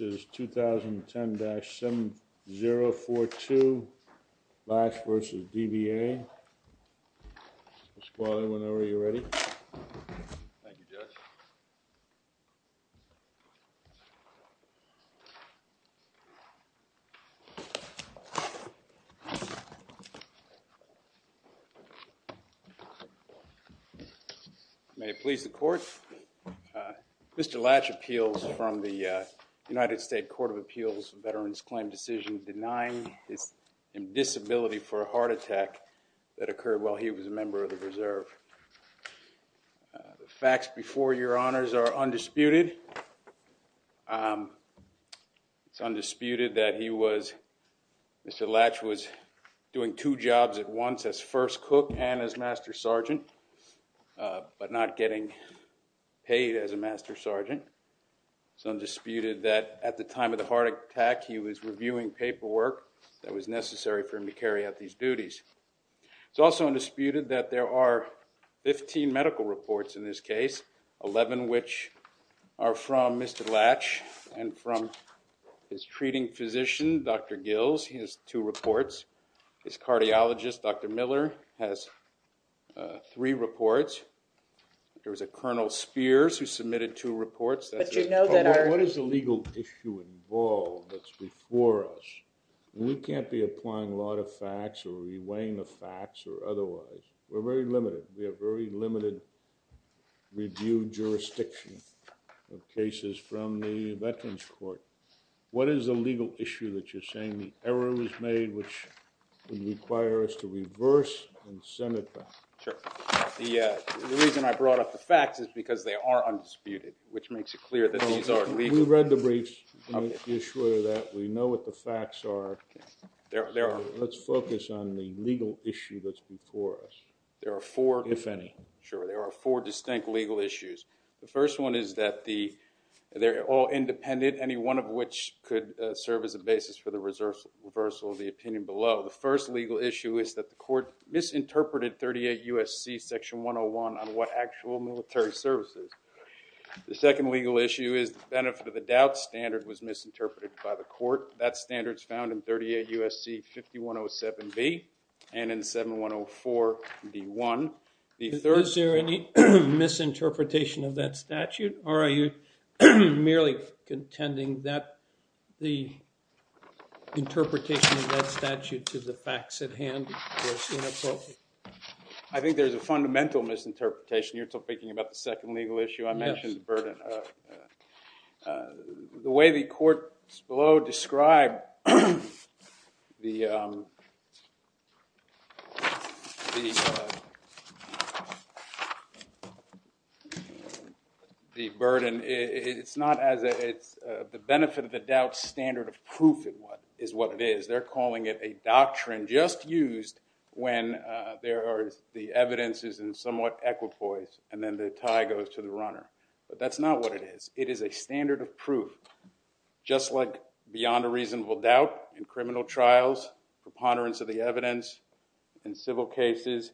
2010-7042 LATSCH v. DVA. Mr. Spaulding, whenever you're ready. Thank you, Judge. May it please the Court. Mr. Latch appeals from the United States Court of Appeals Veterans Claim Decision denying his disability for a heart attack that occurred while he was a member of the Reserve. The facts before your honors are undisputed. It's undisputed that he was, Mr. Latch was doing two jobs at once as first cook and as master sergeant, but not getting paid as a master sergeant. It's undisputed that at the time of the heart attack he was reviewing paperwork that was necessary for him to carry out these duties. It's also undisputed that there are 15 medical reports in this case, 11 which are from Mr. Latch and from his treating physician, Dr. Gills. He has two reports. His cardiologist, Dr. Miller, has three reports. There was a Colonel Spears who submitted two reports. What is the legal issue involved that's before us? We can't be applying law to facts or reweighing the facts or otherwise. We're very limited. We have very limited review jurisdiction of cases from the Veterans Court. What is the legal issue that you're saying? The error was made which would require us to reverse and send it back. Sure. The reason I brought up the facts is because they are undisputed, which makes it clear that these are legal. We read the briefs. You're sure of that? We know what the facts are. Let's focus on the legal issue that's before us, if any. Sure. There are four distinct legal issues. The first one is that they're all independent, any one of which could serve as a basis for the reversal of the opinion below. The first legal issue is that the court misinterpreted 38 U.S.C. Section 101 on what actual military service is. The second legal issue is the benefit of the doubt standard was misinterpreted by the court. That standard's found in 38 U.S.C. 5107B and in 7104D1. Is there any misinterpretation of that statute, or are you merely contending that the interpretation of that statute to the facts at hand was inappropriate? I think there's a fundamental misinterpretation. You're still thinking about the second legal issue. I mentioned the burden. The way the courts below describe the burden, it's not as if it's the benefit of the doubt standard of proof is what it is. They're calling it a doctrine just used when the evidence is in somewhat equipoise, and then the tie goes to the runner. But that's not what it is. It is a standard of proof, just like beyond a reasonable doubt in criminal trials, preponderance of the evidence in civil cases,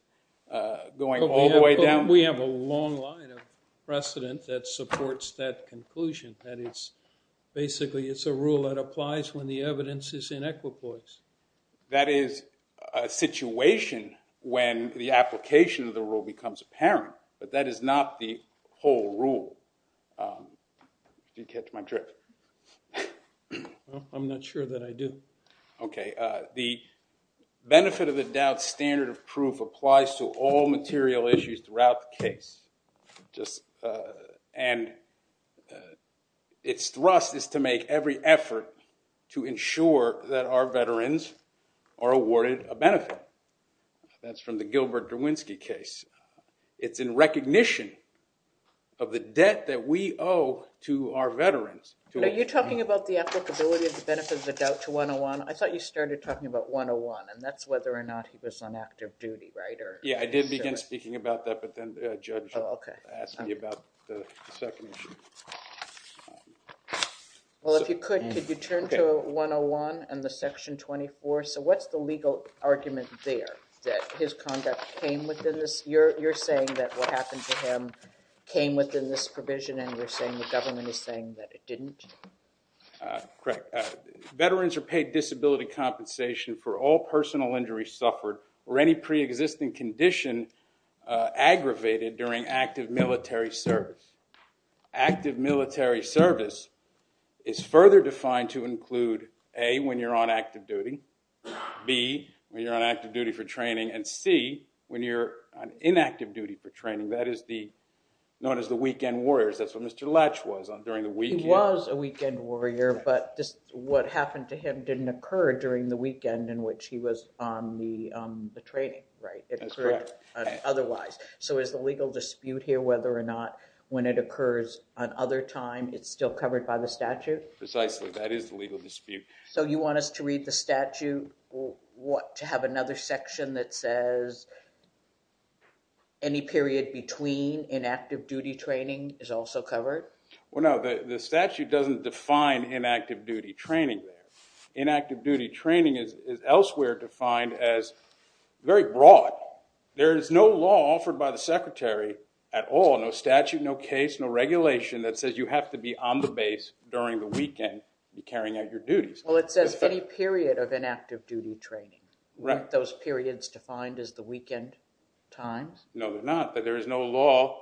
going all the way down. We have a long line of precedent that supports that conclusion, that basically it's a rule that applies when the evidence is in equipoise. That is a situation when the application of the rule becomes apparent, but that is not the whole rule. Did you catch my trick? I'm not sure that I do. The benefit of the doubt standard of proof applies to all material issues throughout the case, and its thrust is to make every effort to ensure that our veterans are awarded a benefit. That's from the Gilbert Derwinski case. It's in recognition of the debt that we owe to our veterans. Are you talking about the applicability of the benefit of the doubt to 101? I thought you started talking about 101, and that's whether or not he was on active duty, right? Yeah, I did begin speaking about that, but then the judge asked me about the second issue. Well, if you could, could you turn to 101 and the Section 24? So what's the legal argument there, that his conduct came within this? You're saying that what happened to him came within this provision, and you're saying the government is saying that it didn't? Correct. Veterans are paid disability compensation for all personal injuries suffered or any preexisting condition aggravated during active military service. Active military service is further defined to include, A, when you're on active duty, B, when you're on active duty for training, and C, when you're on inactive duty for training. That is known as the weekend warriors. That's what Mr. Lech was on during the weekend. He was a weekend warrior, but what happened to him didn't occur during the weekend in which he was on the training, right? That's correct. So is the legal dispute here whether or not when it occurs on other time, it's still covered by the statute? Precisely, that is the legal dispute. So you want us to read the statute to have another section that says any period between inactive duty training is also covered? Well, no, the statute doesn't define inactive duty training there. Inactive duty training is elsewhere defined as very broad. There is no law offered by the secretary at all, no statute, no case, no regulation that says you have to be on the base during the weekend carrying out your duties. Well, it says any period of inactive duty training. Right. Those periods defined as the weekend times? No, they're not. There is no law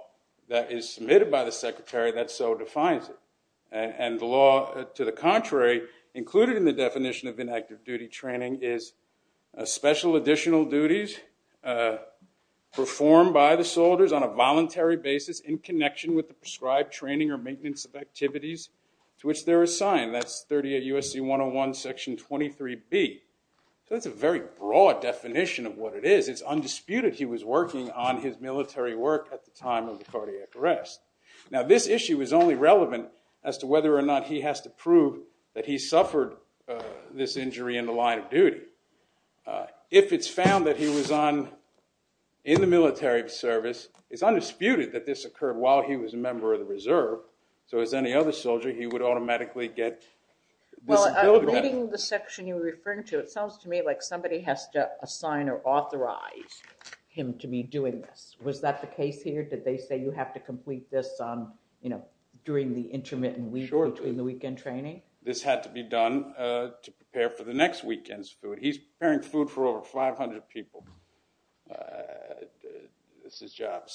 that is submitted by the secretary that so defines it. And the law, to the contrary, included in the definition of inactive duty training is special additional duties performed by the soldiers on a voluntary basis in connection with the prescribed training or maintenance of activities to which they're assigned. That's 38 U.S.C. 101 Section 23B. So that's a very broad definition of what it is. It's undisputed he was working on his military work at the time of the cardiac arrest. Now, this issue is only relevant as to whether or not he has to prove that he suffered this injury in the line of duty. If it's found that he was in the military service, it's undisputed that this occurred while he was a member of the reserve. So as any other soldier, he would automatically get disability. Well, reading the section you're referring to, it sounds to me like somebody has to assign or authorize him to be doing this. Was that the case here? Did they say you have to complete this during the intermittent week between the weekend training? This had to be done to prepare for the next weekend's food. He's preparing food for over 500 people. It's his job.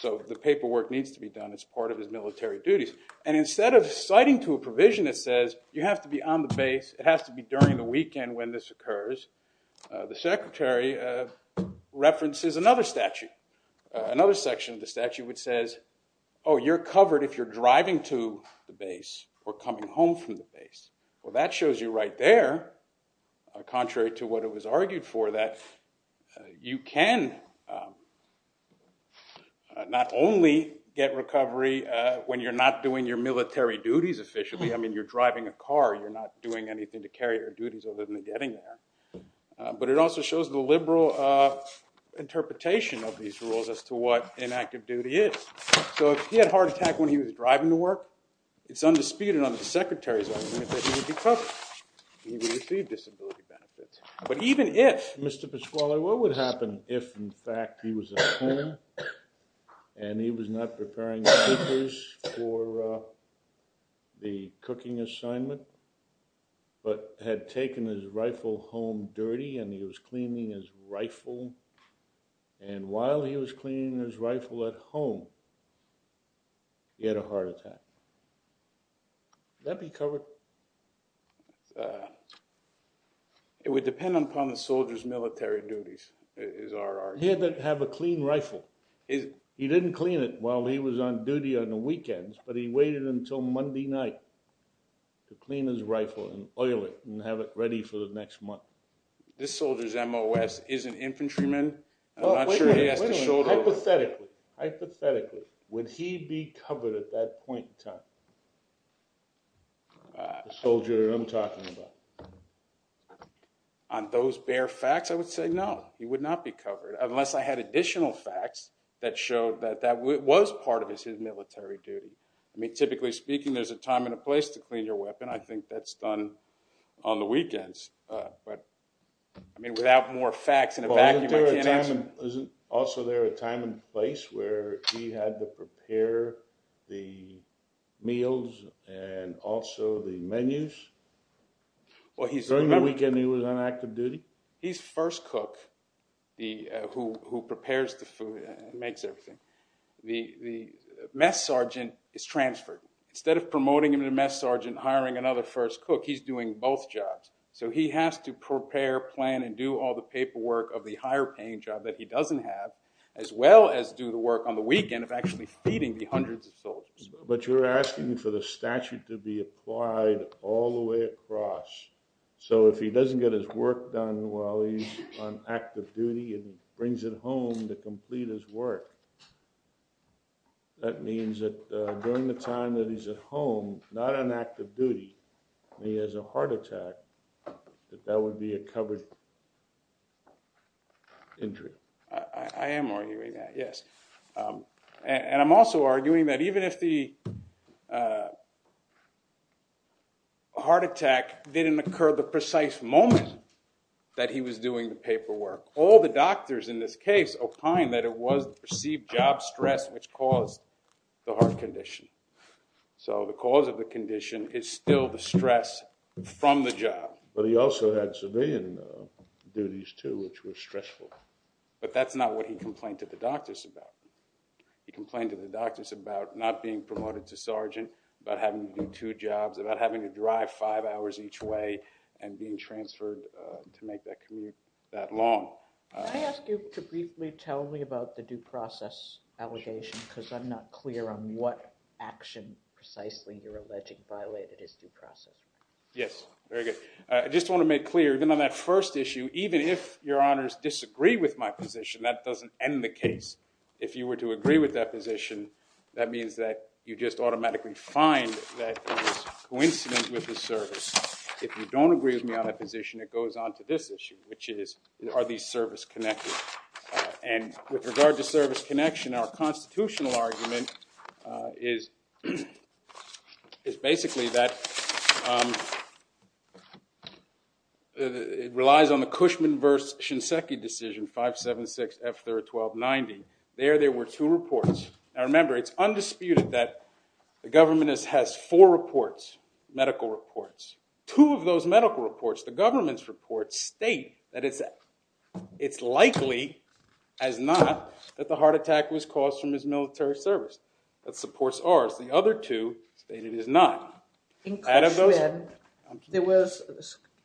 So the paperwork needs to be done as part of his military duties. And instead of citing to a provision that says you have to be on the base, it has to be during the weekend when this occurs, the secretary references another statute, another section of the statute which says, oh, you're covered if you're driving to the base or coming home from the base. Well, that shows you right there, contrary to what it was argued for, that you can not only get recovery when you're not doing your military duties officially. I mean, you're driving a car. You're not doing anything to carry your duties other than getting there. But it also shows the liberal interpretation of these rules as to what inactive duty is. So if he had a heart attack when he was driving to work, it's undisputed on the secretary's argument that he would be covered. He would receive disability benefits. But even if, Mr. Pasquale, what would happen if, in fact, he was at home and he was not preparing papers for the cooking assignment, but had taken his rifle home dirty and he was cleaning his rifle, and while he was cleaning his rifle at home, he had a heart attack? Would that be covered? It would depend upon the soldier's military duties, is our argument. He had to have a clean rifle. He didn't clean it while he was on duty on the weekends, but he waited until Monday night to clean his rifle and oil it and have it ready for the next month. This soldier's MOS is an infantryman. I'm not sure he has the shoulder— Wait a minute. Hypothetically, hypothetically, would he be covered at that point in time? The soldier I'm talking about. On those bare facts, I would say no, he would not be covered, unless I had additional facts that showed that that was part of his military duty. I mean, typically speaking, there's a time and a place to clean your weapon. I think that's done on the weekends. But, I mean, without more facts in a vacuum, I can't answer. Isn't also there a time and place where he had to prepare the meals and also the menus? During the weekend, he was on active duty? He's first cook who prepares the food and makes everything. The mess sergeant is transferred. Instead of promoting him to mess sergeant, hiring another first cook, he's doing both jobs. So he has to prepare, plan, and do all the paperwork of the higher-paying job that he doesn't have, as well as do the work on the weekend of actually feeding the hundreds of soldiers. But you're asking for the statute to be applied all the way across. So if he doesn't get his work done while he's on active duty and brings it home to complete his work, that means that during the time that he's at home, not on active duty, he has a heart attack, that that would be a covered injury. I am arguing that, yes. And I'm also arguing that even if the heart attack didn't occur the precise moment that he was doing the paperwork, all the doctors in this case opine that it was perceived job stress which caused the heart condition. So the cause of the condition is still the stress from the job. But he also had civilian duties, too, which were stressful. But that's not what he complained to the doctors about. He complained to the doctors about not being promoted to sergeant, about having to do two jobs, about having to drive five hours each way, and being transferred to make that commute that long. Can I ask you to briefly tell me about the due process allegation? Because I'm not clear on what action, precisely, you're alleging violated his due process. Yes. Very good. I just want to make clear, even on that first issue, even if Your Honors disagree with my position, that doesn't end the case. If you were to agree with that position, that means that you just automatically find that it was coincident with his service. If you don't agree with me on that position, it goes on to this issue, which is, are these service connected? And with regard to service connection, our constitutional argument is basically that it relies on the Cushman v. Shinseki decision, 576 F. 3rd 1290. There, there were two reports. Now remember, it's undisputed that the government has four reports, medical reports. Two of those medical reports, the government's reports, state that it's likely, as not, that the heart attack was caused from his military service. That supports ours. The other two state it is not. In Cushman,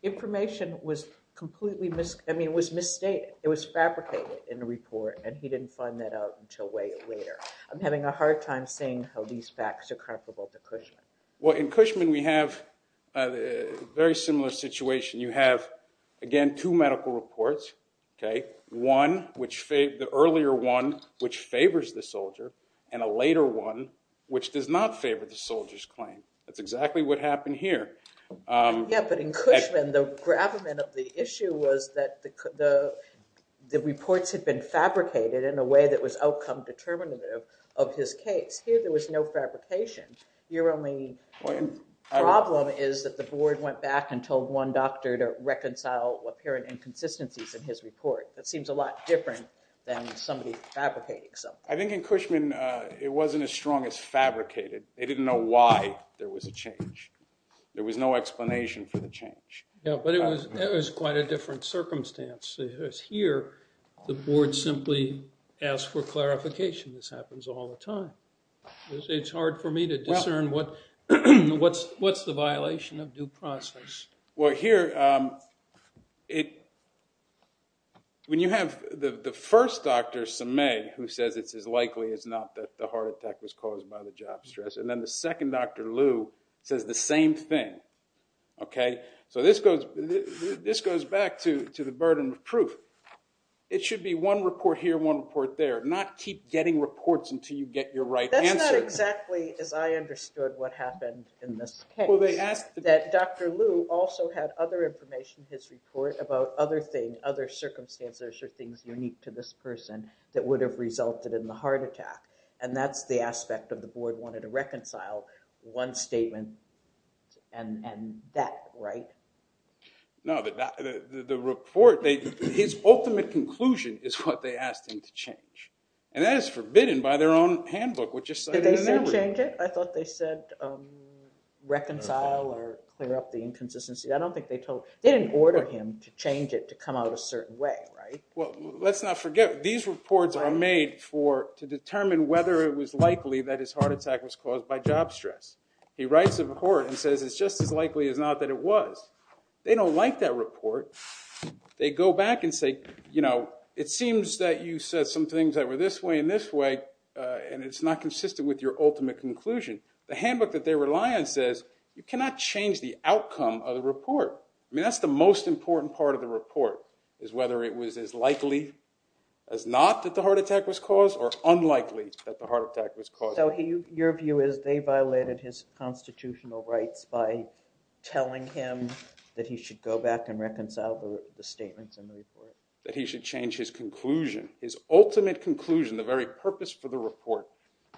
information was completely, I mean, it was misstated. It was fabricated in the report, and he didn't find that out until way later. I'm having a hard time seeing how these facts are comparable to Cushman. Well, in Cushman, we have a very similar situation. You have, again, two medical reports. One, the earlier one, which favors the soldier, and a later one, which does not favor the soldier's claim. That's exactly what happened here. Yeah, but in Cushman, the gravamen of the issue was that the reports had been fabricated in a way that was outcome determinative of his case. Here, there was no fabrication. Your only problem is that the board went back and told one doctor to reconcile apparent inconsistencies in his report. That seems a lot different than somebody fabricating something. I think in Cushman, it wasn't as strong as fabricated. They didn't know why there was a change. There was no explanation for the change. Yeah, but it was quite a different circumstance. Here, the board simply asked for clarification. This happens all the time. It's hard for me to discern what's the violation of due process. Well, here, when you have the first Dr. Sameh, who says it's as likely as not that the heart attack was caused by the job stress, and then the second Dr. Liu says the same thing, okay? So this goes back to the burden of proof. It should be one report here, one report there, not keep getting reports until you get your right answer. That's not exactly as I understood what happened in this case. That Dr. Liu also had other information in his report about other circumstances or things unique to this person that would have resulted in the heart attack. And that's the aspect of the board wanting to reconcile one statement and that, right? No, the report, his ultimate conclusion is what they asked him to change. And that is forbidden by their own handbook, which is cited in their report. Did they say change it? I thought they said reconcile or clear up the inconsistency. I don't think they told – they didn't order him to change it to come out a certain way, right? Well, let's not forget, these reports are made to determine whether it was likely that his heart attack was caused by job stress. He writes a report and says it's just as likely as not that it was. They don't like that report. They go back and say, you know, it seems that you said some things that were this way and this way, and it's not consistent with your ultimate conclusion. The handbook that they rely on says you cannot change the outcome of the report. I mean, that's the most important part of the report is whether it was as likely as not that the heart attack was caused or unlikely that the heart attack was caused. So your view is they violated his constitutional rights by telling him that he should go back and reconcile the statements in the report? That he should change his conclusion, his ultimate conclusion, the very purpose for the report,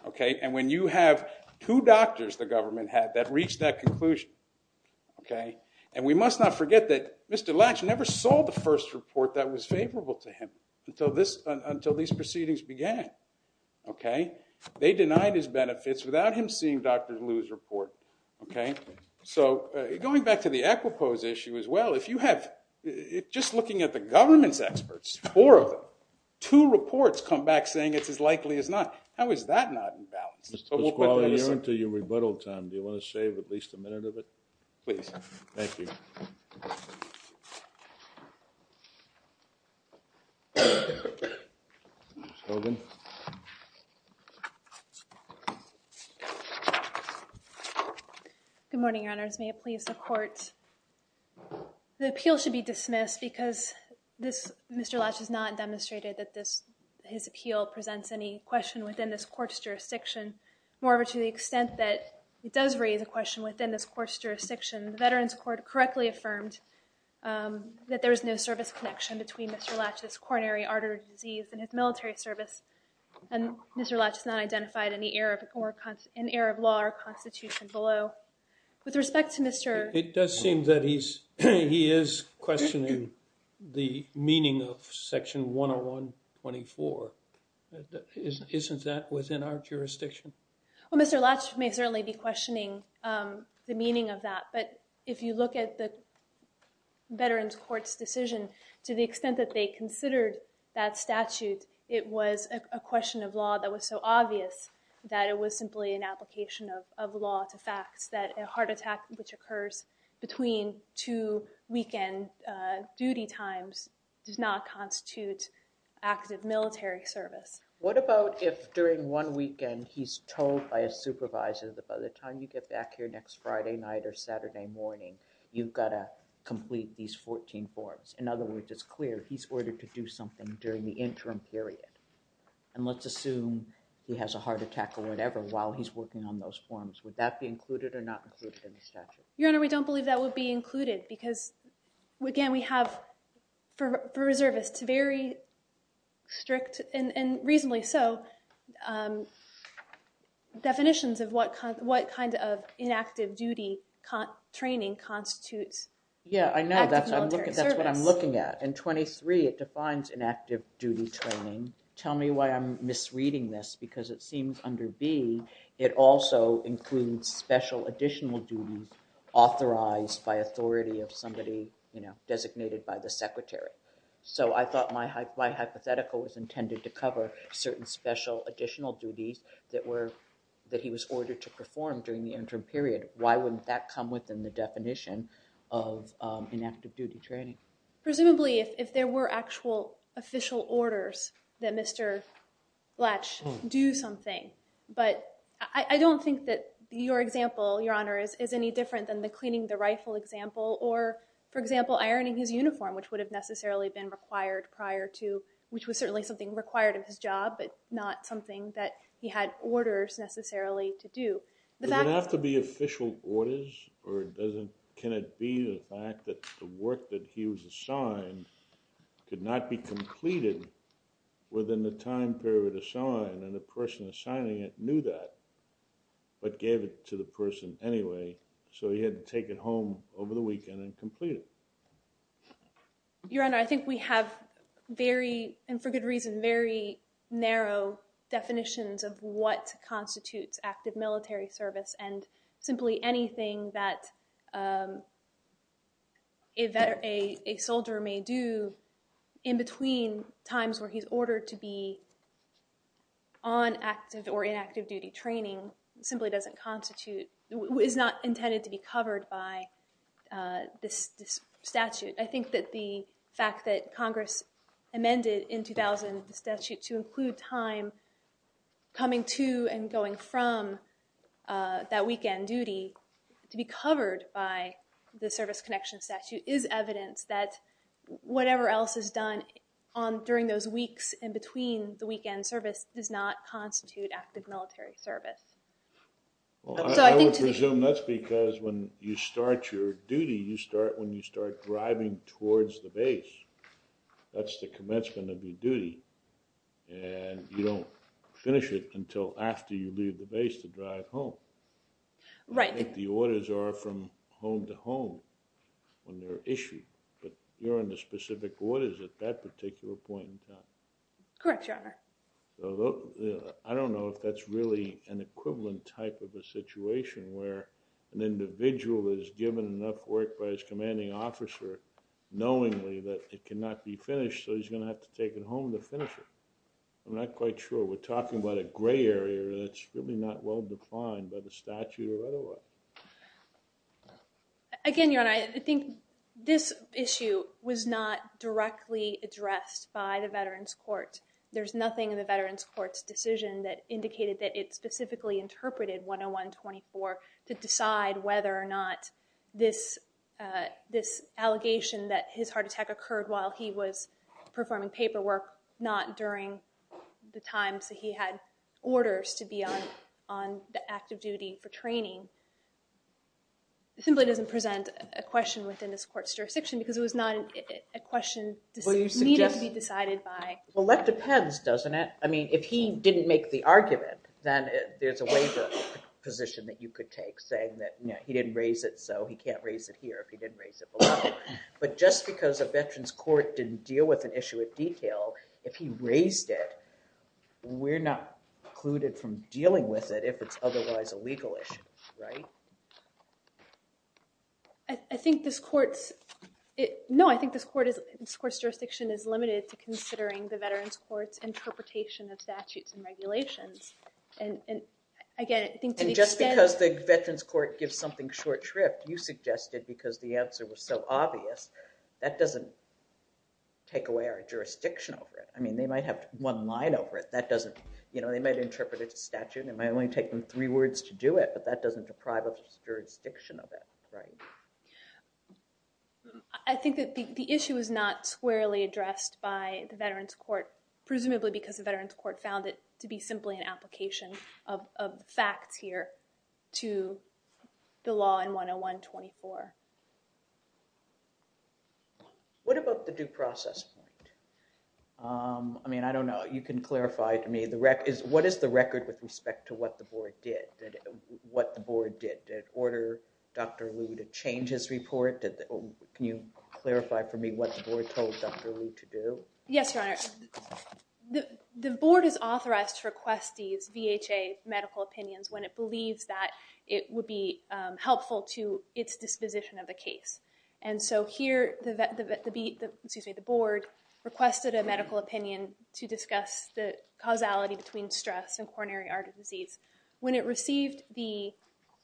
okay? And when you have two doctors the government had that reached that conclusion, okay? And we must not forget that Mr. Latch never saw the first report that was favorable to him until these proceedings began, okay? They denied his benefits without him seeing Dr. Liu's report, okay? So going back to the equipoise issue as well, if you have just looking at the government's experts, four of them, two reports come back saying it's as likely as not. How is that not in balance? Mr. Pasquale, you're into your rebuttal time. Do you want to save at least a minute of it? Please. Thank you. Ms. Hogan. Good morning, your honors. May it please the court. The appeal should be dismissed because Mr. Latch has not demonstrated that his appeal presents any question within this court's jurisdiction. More to the extent that it does raise a question within this court's jurisdiction. The Veterans Court correctly affirmed that there is no service connection between Mr. Latch's coronary artery disease and his military service. And Mr. Latch has not identified any error of law or constitution below. With respect to Mr. It does seem that he is questioning the meaning of section 101.24. Isn't that within our jurisdiction? Well, Mr. Latch may certainly be questioning the meaning of that. But if you look at the Veterans Court's decision, to the extent that they considered that statute, it was a question of law that was so obvious that it was simply an application of law to facts. That a heart attack which occurs between two weekend duty times does not constitute active military service. What about if during one weekend he's told by a supervisor that by the time you get back here next Friday night or Saturday morning, you've got to complete these 14 forms. In other words, it's clear he's ordered to do something during the interim period. And let's assume he has a heart attack or whatever while he's working on those forms. Would that be included or not included in the statute? Your Honor, we don't believe that would be included. Because again, we have, for reservists, very strict and reasonably so definitions of what kind of inactive duty training constitutes active military service. Yeah, I know. That's what I'm looking at. In 23, it defines inactive duty training. Tell me why I'm misreading this. Because it seems under B, it also includes special additional duties authorized by authority of somebody designated by the secretary. So I thought my hypothetical was intended to cover certain special additional duties that he was ordered to perform during the interim period. Why wouldn't that come within the definition of inactive duty training? Presumably, if there were actual official orders that Mr. Blatch do something. But I don't think that your example, Your Honor, is any different than the cleaning the rifle example. Or, for example, ironing his uniform, which would have necessarily been required prior to, which was certainly something required of his job. But not something that he had orders necessarily to do. Does it have to be official orders? Or can it be the fact that the work that he was assigned could not be completed within the time period assigned? And the person assigning it knew that, but gave it to the person anyway. So he had to take it home over the weekend and complete it. Your Honor, I think we have very, and for good reason, very narrow definitions of what constitutes active military service. And simply anything that a soldier may do in between times where he's ordered to be on active or inactive duty training, simply doesn't constitute, is not intended to be covered by this statute. I think that the fact that Congress amended in 2000 the statute to include time coming to and going from that weekend duty to be covered by the Service Connection Statute is evidence that whatever else is done during those weeks in between the weekend service does not constitute active military service. I would presume that's because when you start your duty, you start when you start driving towards the base. That's the commencement of your duty. And you don't finish it until after you leave the base to drive home. Right. I think the orders are from home to home when they're issued. But you're under specific orders at that particular point in time. Correct, Your Honor. I don't know if that's really an equivalent type of a situation where an individual is given enough work by his commanding officer knowingly that it cannot be finished, so he's going to have to take it home to finish it. I'm not quite sure. We're talking about a gray area that's really not well defined by the statute or otherwise. Again, Your Honor, I think this issue was not directly addressed by the Veterans Court. There's nothing in the Veterans Court's decision that indicated that it specifically interpreted 101-24 to decide whether or not this allegation that his heart attack occurred while he was performing paperwork, not during the times that he had orders to be on active duty for training, simply doesn't present a question within this court's jurisdiction because it was not a question that needed to be decided by. Well, that depends, doesn't it? I mean, if he didn't make the argument, then there's a waiver position that you could take, saying that he didn't raise it, so he can't raise it here if he didn't raise it below. But just because a Veterans Court didn't deal with an issue at detail, if he raised it, we're not precluded from dealing with it if it's otherwise a legal issue, right? No, I think this court's jurisdiction is limited to considering the Veterans Court's interpretation of statutes and regulations. And just because the Veterans Court gives something short shrift, you suggested because the answer was so obvious, that doesn't take away our jurisdiction over it. I mean, they might have one line over it. They might interpret it as a statute and it might only take them three words to do it, but that doesn't deprive us of the jurisdiction of it, right? I think that the issue is not squarely addressed by the Veterans Court, but found it to be simply an application of facts here to the law in 101-24. What about the due process point? I mean, I don't know. You can clarify to me. What is the record with respect to what the board did? Did it order Dr. Liu to change his report? Can you clarify for me what the board told Dr. Liu to do? Yes, Your Honor. The board is authorized to request these VHA medical opinions when it believes that it would be helpful to its disposition of the case. And so here the board requested a medical opinion to discuss the causality between stress and coronary artery disease. When it received the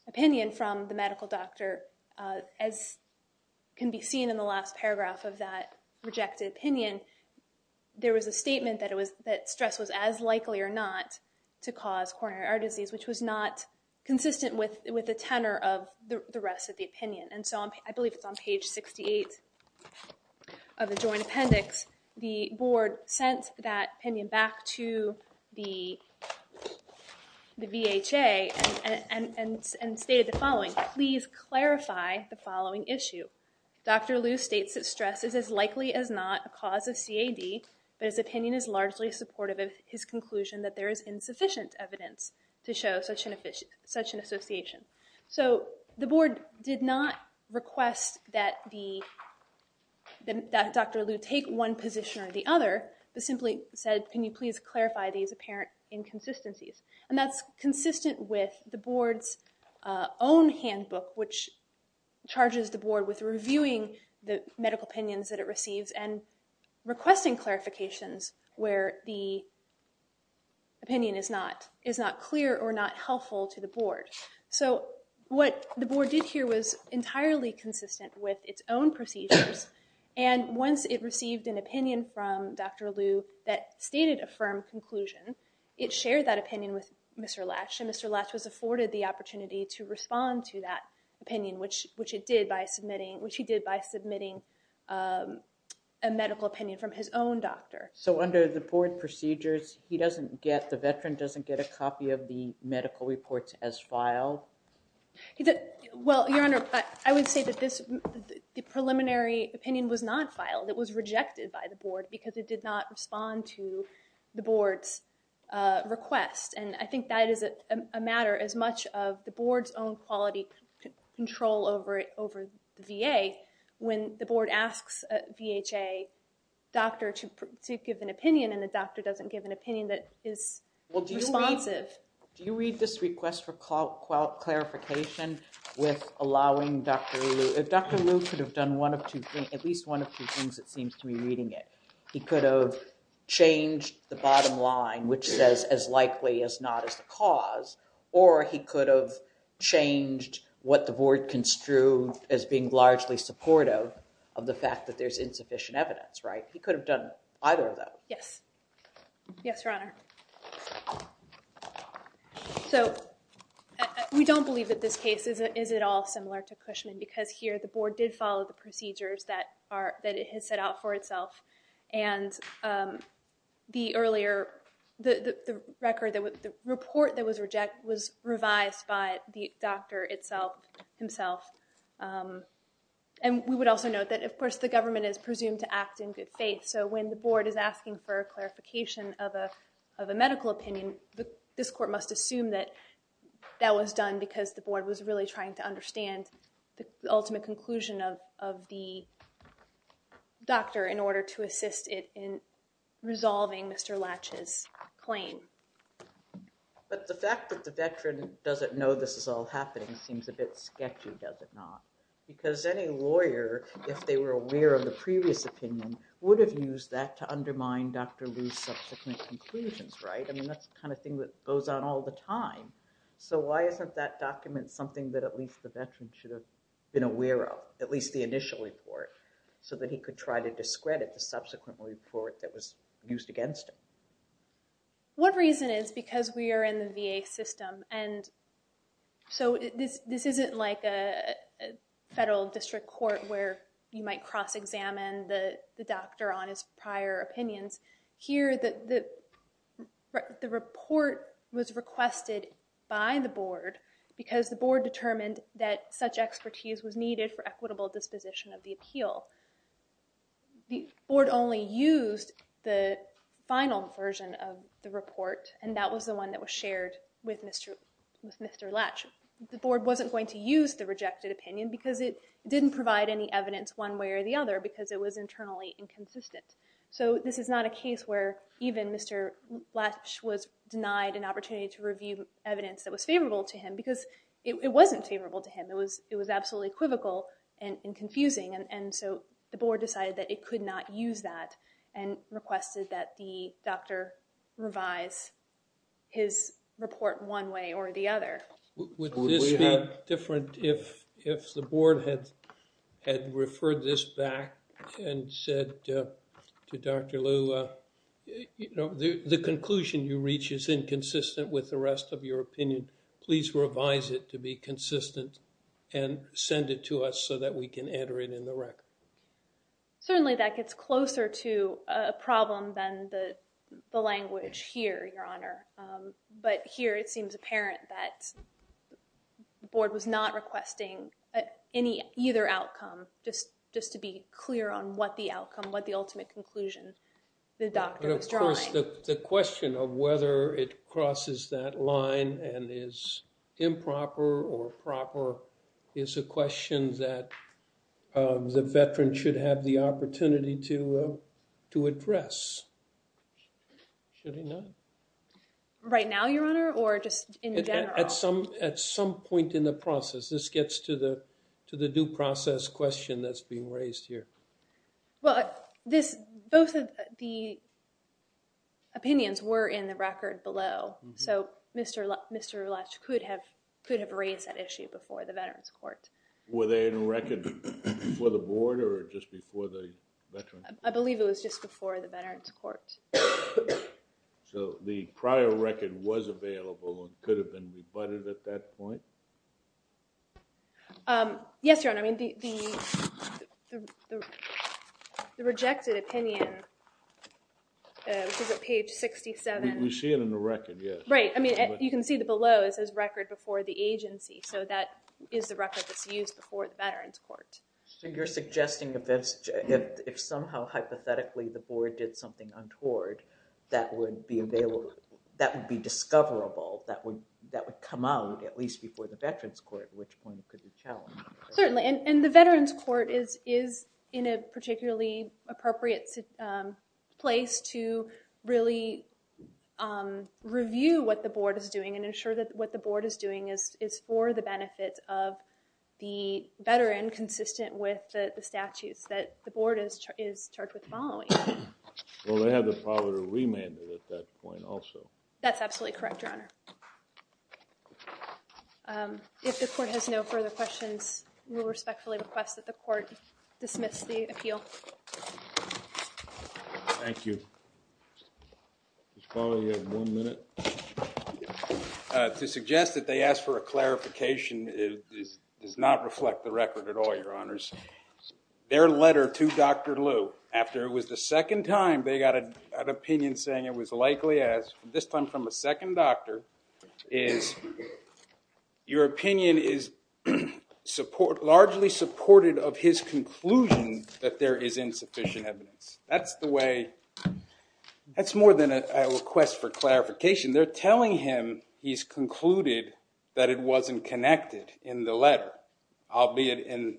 opinion from the medical doctor, as can be seen in the last paragraph of that rejected opinion, there was a statement that stress was as likely or not to cause coronary artery disease, which was not consistent with the tenor of the rest of the opinion. And so I believe it's on page 68 of the joint appendix. The board sent that opinion back to the VHA and stated the following, Can you please clarify the following issue? Dr. Liu states that stress is as likely as not a cause of CAD, but his opinion is largely supportive of his conclusion that there is insufficient evidence to show such an association. So the board did not request that Dr. Liu take one position or the other, but simply said, can you please clarify these apparent inconsistencies? And that's consistent with the board's own handbook, which charges the board with reviewing the medical opinions that it receives and requesting clarifications where the opinion is not clear or not helpful to the board. So what the board did here was entirely consistent with its own procedures. And once it received an opinion from Dr. Liu that stated a firm conclusion, it shared that opinion with Mr. Lash. And Mr. Lash was afforded the opportunity to respond to that opinion, which he did by submitting a medical opinion from his own doctor. So under the board procedures, the veteran doesn't get a copy of the medical reports as filed? Well, Your Honor, I would say that the preliminary opinion was not filed. It was rejected by the board because it did not respond to the board's request. And I think that is a matter as much of the board's own quality control over the VA when the board asks a VHA doctor to give an opinion and the doctor doesn't give an opinion that is responsive. Do you read this request for clarification with allowing Dr. Liu? If Dr. Liu could have done at least one of two things, it seems to me reading it, he could have changed the bottom line, which says as likely as not as the cause, or he could have changed what the board construed as being largely supportive of the fact that there's insufficient evidence, right? He could have done either of those. Yes. Yes, Your Honor. So we don't believe that this case is at all similar to Cushman because here the board did follow the procedures that it has set out for itself. And the report that was rejected was revised by the doctor himself. And we would also note that, of course, the government is presumed to act in good faith. So when the board is asking for a clarification of a medical opinion, this court must assume that that was done because the board was really trying to understand the ultimate conclusion of the doctor in order to assist it in resolving Mr. Latch's claim. But the fact that the veteran doesn't know this is all happening seems a bit sketchy, does it not? Because any lawyer, if they were aware of the previous opinion, would have used that to undermine Dr. Lu's subsequent conclusions, right? I mean, that's the kind of thing that goes on all the time. So why isn't that document something that at least the veteran should have been aware of, at least the initial report, so that he could try to discredit the subsequent report that was used against him? One reason is because we are in the VA system. And so this isn't like a federal district court where you might cross-examine the doctor on his prior opinions. Here, the report was requested by the board because the board determined that such expertise was needed for equitable disposition of the appeal. The board only used the final version of the report, and that was the one that was shared with Mr. Latch. The board wasn't going to use the rejected opinion because it didn't provide any evidence one way or the other because it was internally inconsistent. So this is not a case where even Mr. Latch was denied an opportunity to review evidence that was favorable to him, because it wasn't favorable to him. It was absolutely equivocal and confusing. And so the board decided that it could not use that and requested that the doctor revise his report one way or the other. Would this be different if the board had referred this back and said to Dr. Lu, you know, the conclusion you reach is inconsistent with the rest of your opinion. Please revise it to be consistent and send it to us so that we can enter it in the record. Certainly that gets closer to a problem than the language here, Your Honor. But here it seems apparent that the board was not requesting any either outcome, just to be clear on what the outcome, what the ultimate conclusion the doctor was drawing. Of course, the question of whether it crosses that line and is improper or proper is a question that the veteran should have the opportunity to address. Should he not? Right now, Your Honor, or just in general? At some point in the process. This gets to the due process question that's being raised here. Well, both of the opinions were in the record below. So Mr. Lutch could have raised that issue before the veterans court. Were they in the record before the board or just before the veterans? I believe it was just before the veterans court. So the prior record was available and could have been rebutted at that point? Yes, Your Honor. I mean, the rejected opinion is at page 67. We see it in the record, yes. Right. I mean, you can see that below it says record before the agency. So that is the record that's used before the veterans court. So you're suggesting if somehow hypothetically the board did something untoward that would be available, that would be discoverable, that would come out at least before the veterans court, which point could be challenged? Certainly. And the veterans court is in a particularly appropriate place to really review what the board is doing and ensure that what the board is doing is for the benefit of the veteran consistent with the statutes that the board is charged with following. Well, they have the power to remand it at that point also. That's absolutely correct, Your Honor. If the court has no further questions, we respectfully request that the court dismiss the appeal. Mr. Fowler, you have one minute. To suggest that they asked for a clarification does not reflect the record at all, Your Honors. Their letter to Dr. Liu after it was the second time they got an opinion saying it was likely as, this time from a second doctor, is your opinion is largely supported of his conclusion that there is insufficient evidence. That's the way, that's more than a request for clarification. They're telling him he's concluded that it wasn't connected in the letter, albeit in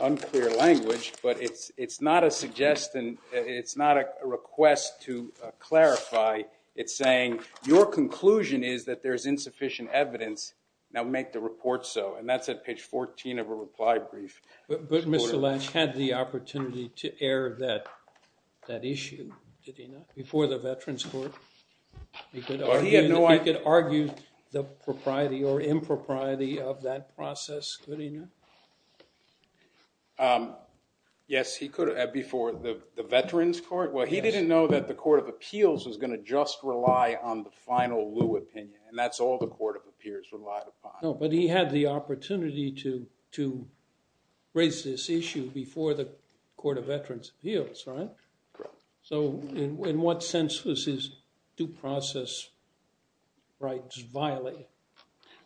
unclear language, but it's not a suggestion, it's not a request to clarify. It's saying your conclusion is that there's insufficient evidence. Now make the report so. And that's at page 14 of a reply brief. But Mr. Lynch had the opportunity to air that issue, did he not, before the veterans court? He could argue the propriety or impropriety of that process, could he not? Yes, he could, before the veterans court. Well, he didn't know that the court of appeals was going to just rely on the final Liu opinion, and that's all the court of appeals relied upon. No, but he had the opportunity to raise this issue before the court of veterans appeals, right? Correct. So in what sense was his due process rights violated?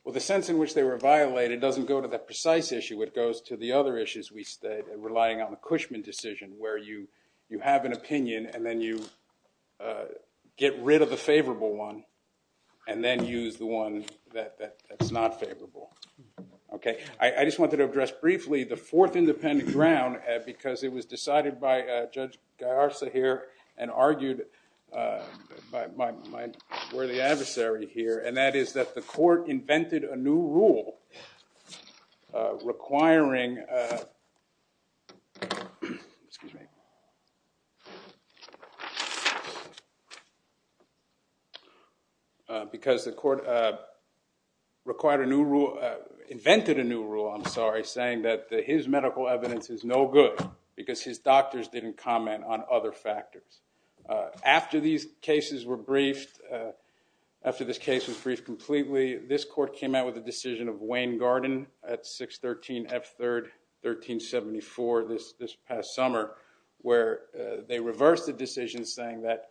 Well, the sense in which they were violated doesn't go to the precise issue, it goes to the other issues we state, relying on the Cushman decision, where you have an opinion and then you get rid of the favorable one, and then use the one that's not favorable. Okay, I just wanted to address briefly the fourth independent ground, because it was decided by Judge Geyer-Sahir and argued by my worthy adversary here, and that is that the court invented a new rule requiring, because the court required a new rule, invented a new rule, I'm sorry, saying that his medical evidence is no good because his doctors didn't comment on other factors. After these cases were briefed, after this case was briefed completely, this court came out with a decision of Wayne Garden at 613 F. 3rd, 1374, this past summer, where they reversed the decision saying that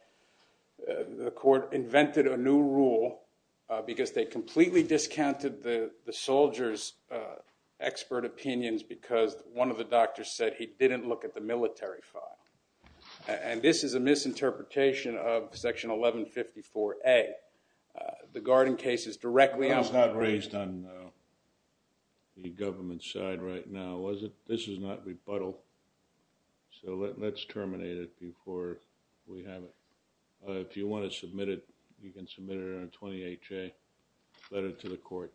the court invented a new rule because they completely discounted the soldier's expert opinions because one of the doctors said he didn't look at the military file. And this is a misinterpretation of Section 1154A. The Garden case is directly outlawed. That's not raised on the government side right now, is it? This is not rebuttal, so let's terminate it before we have it. If you want to submit it, you can submit it on a 28-J letter to the court.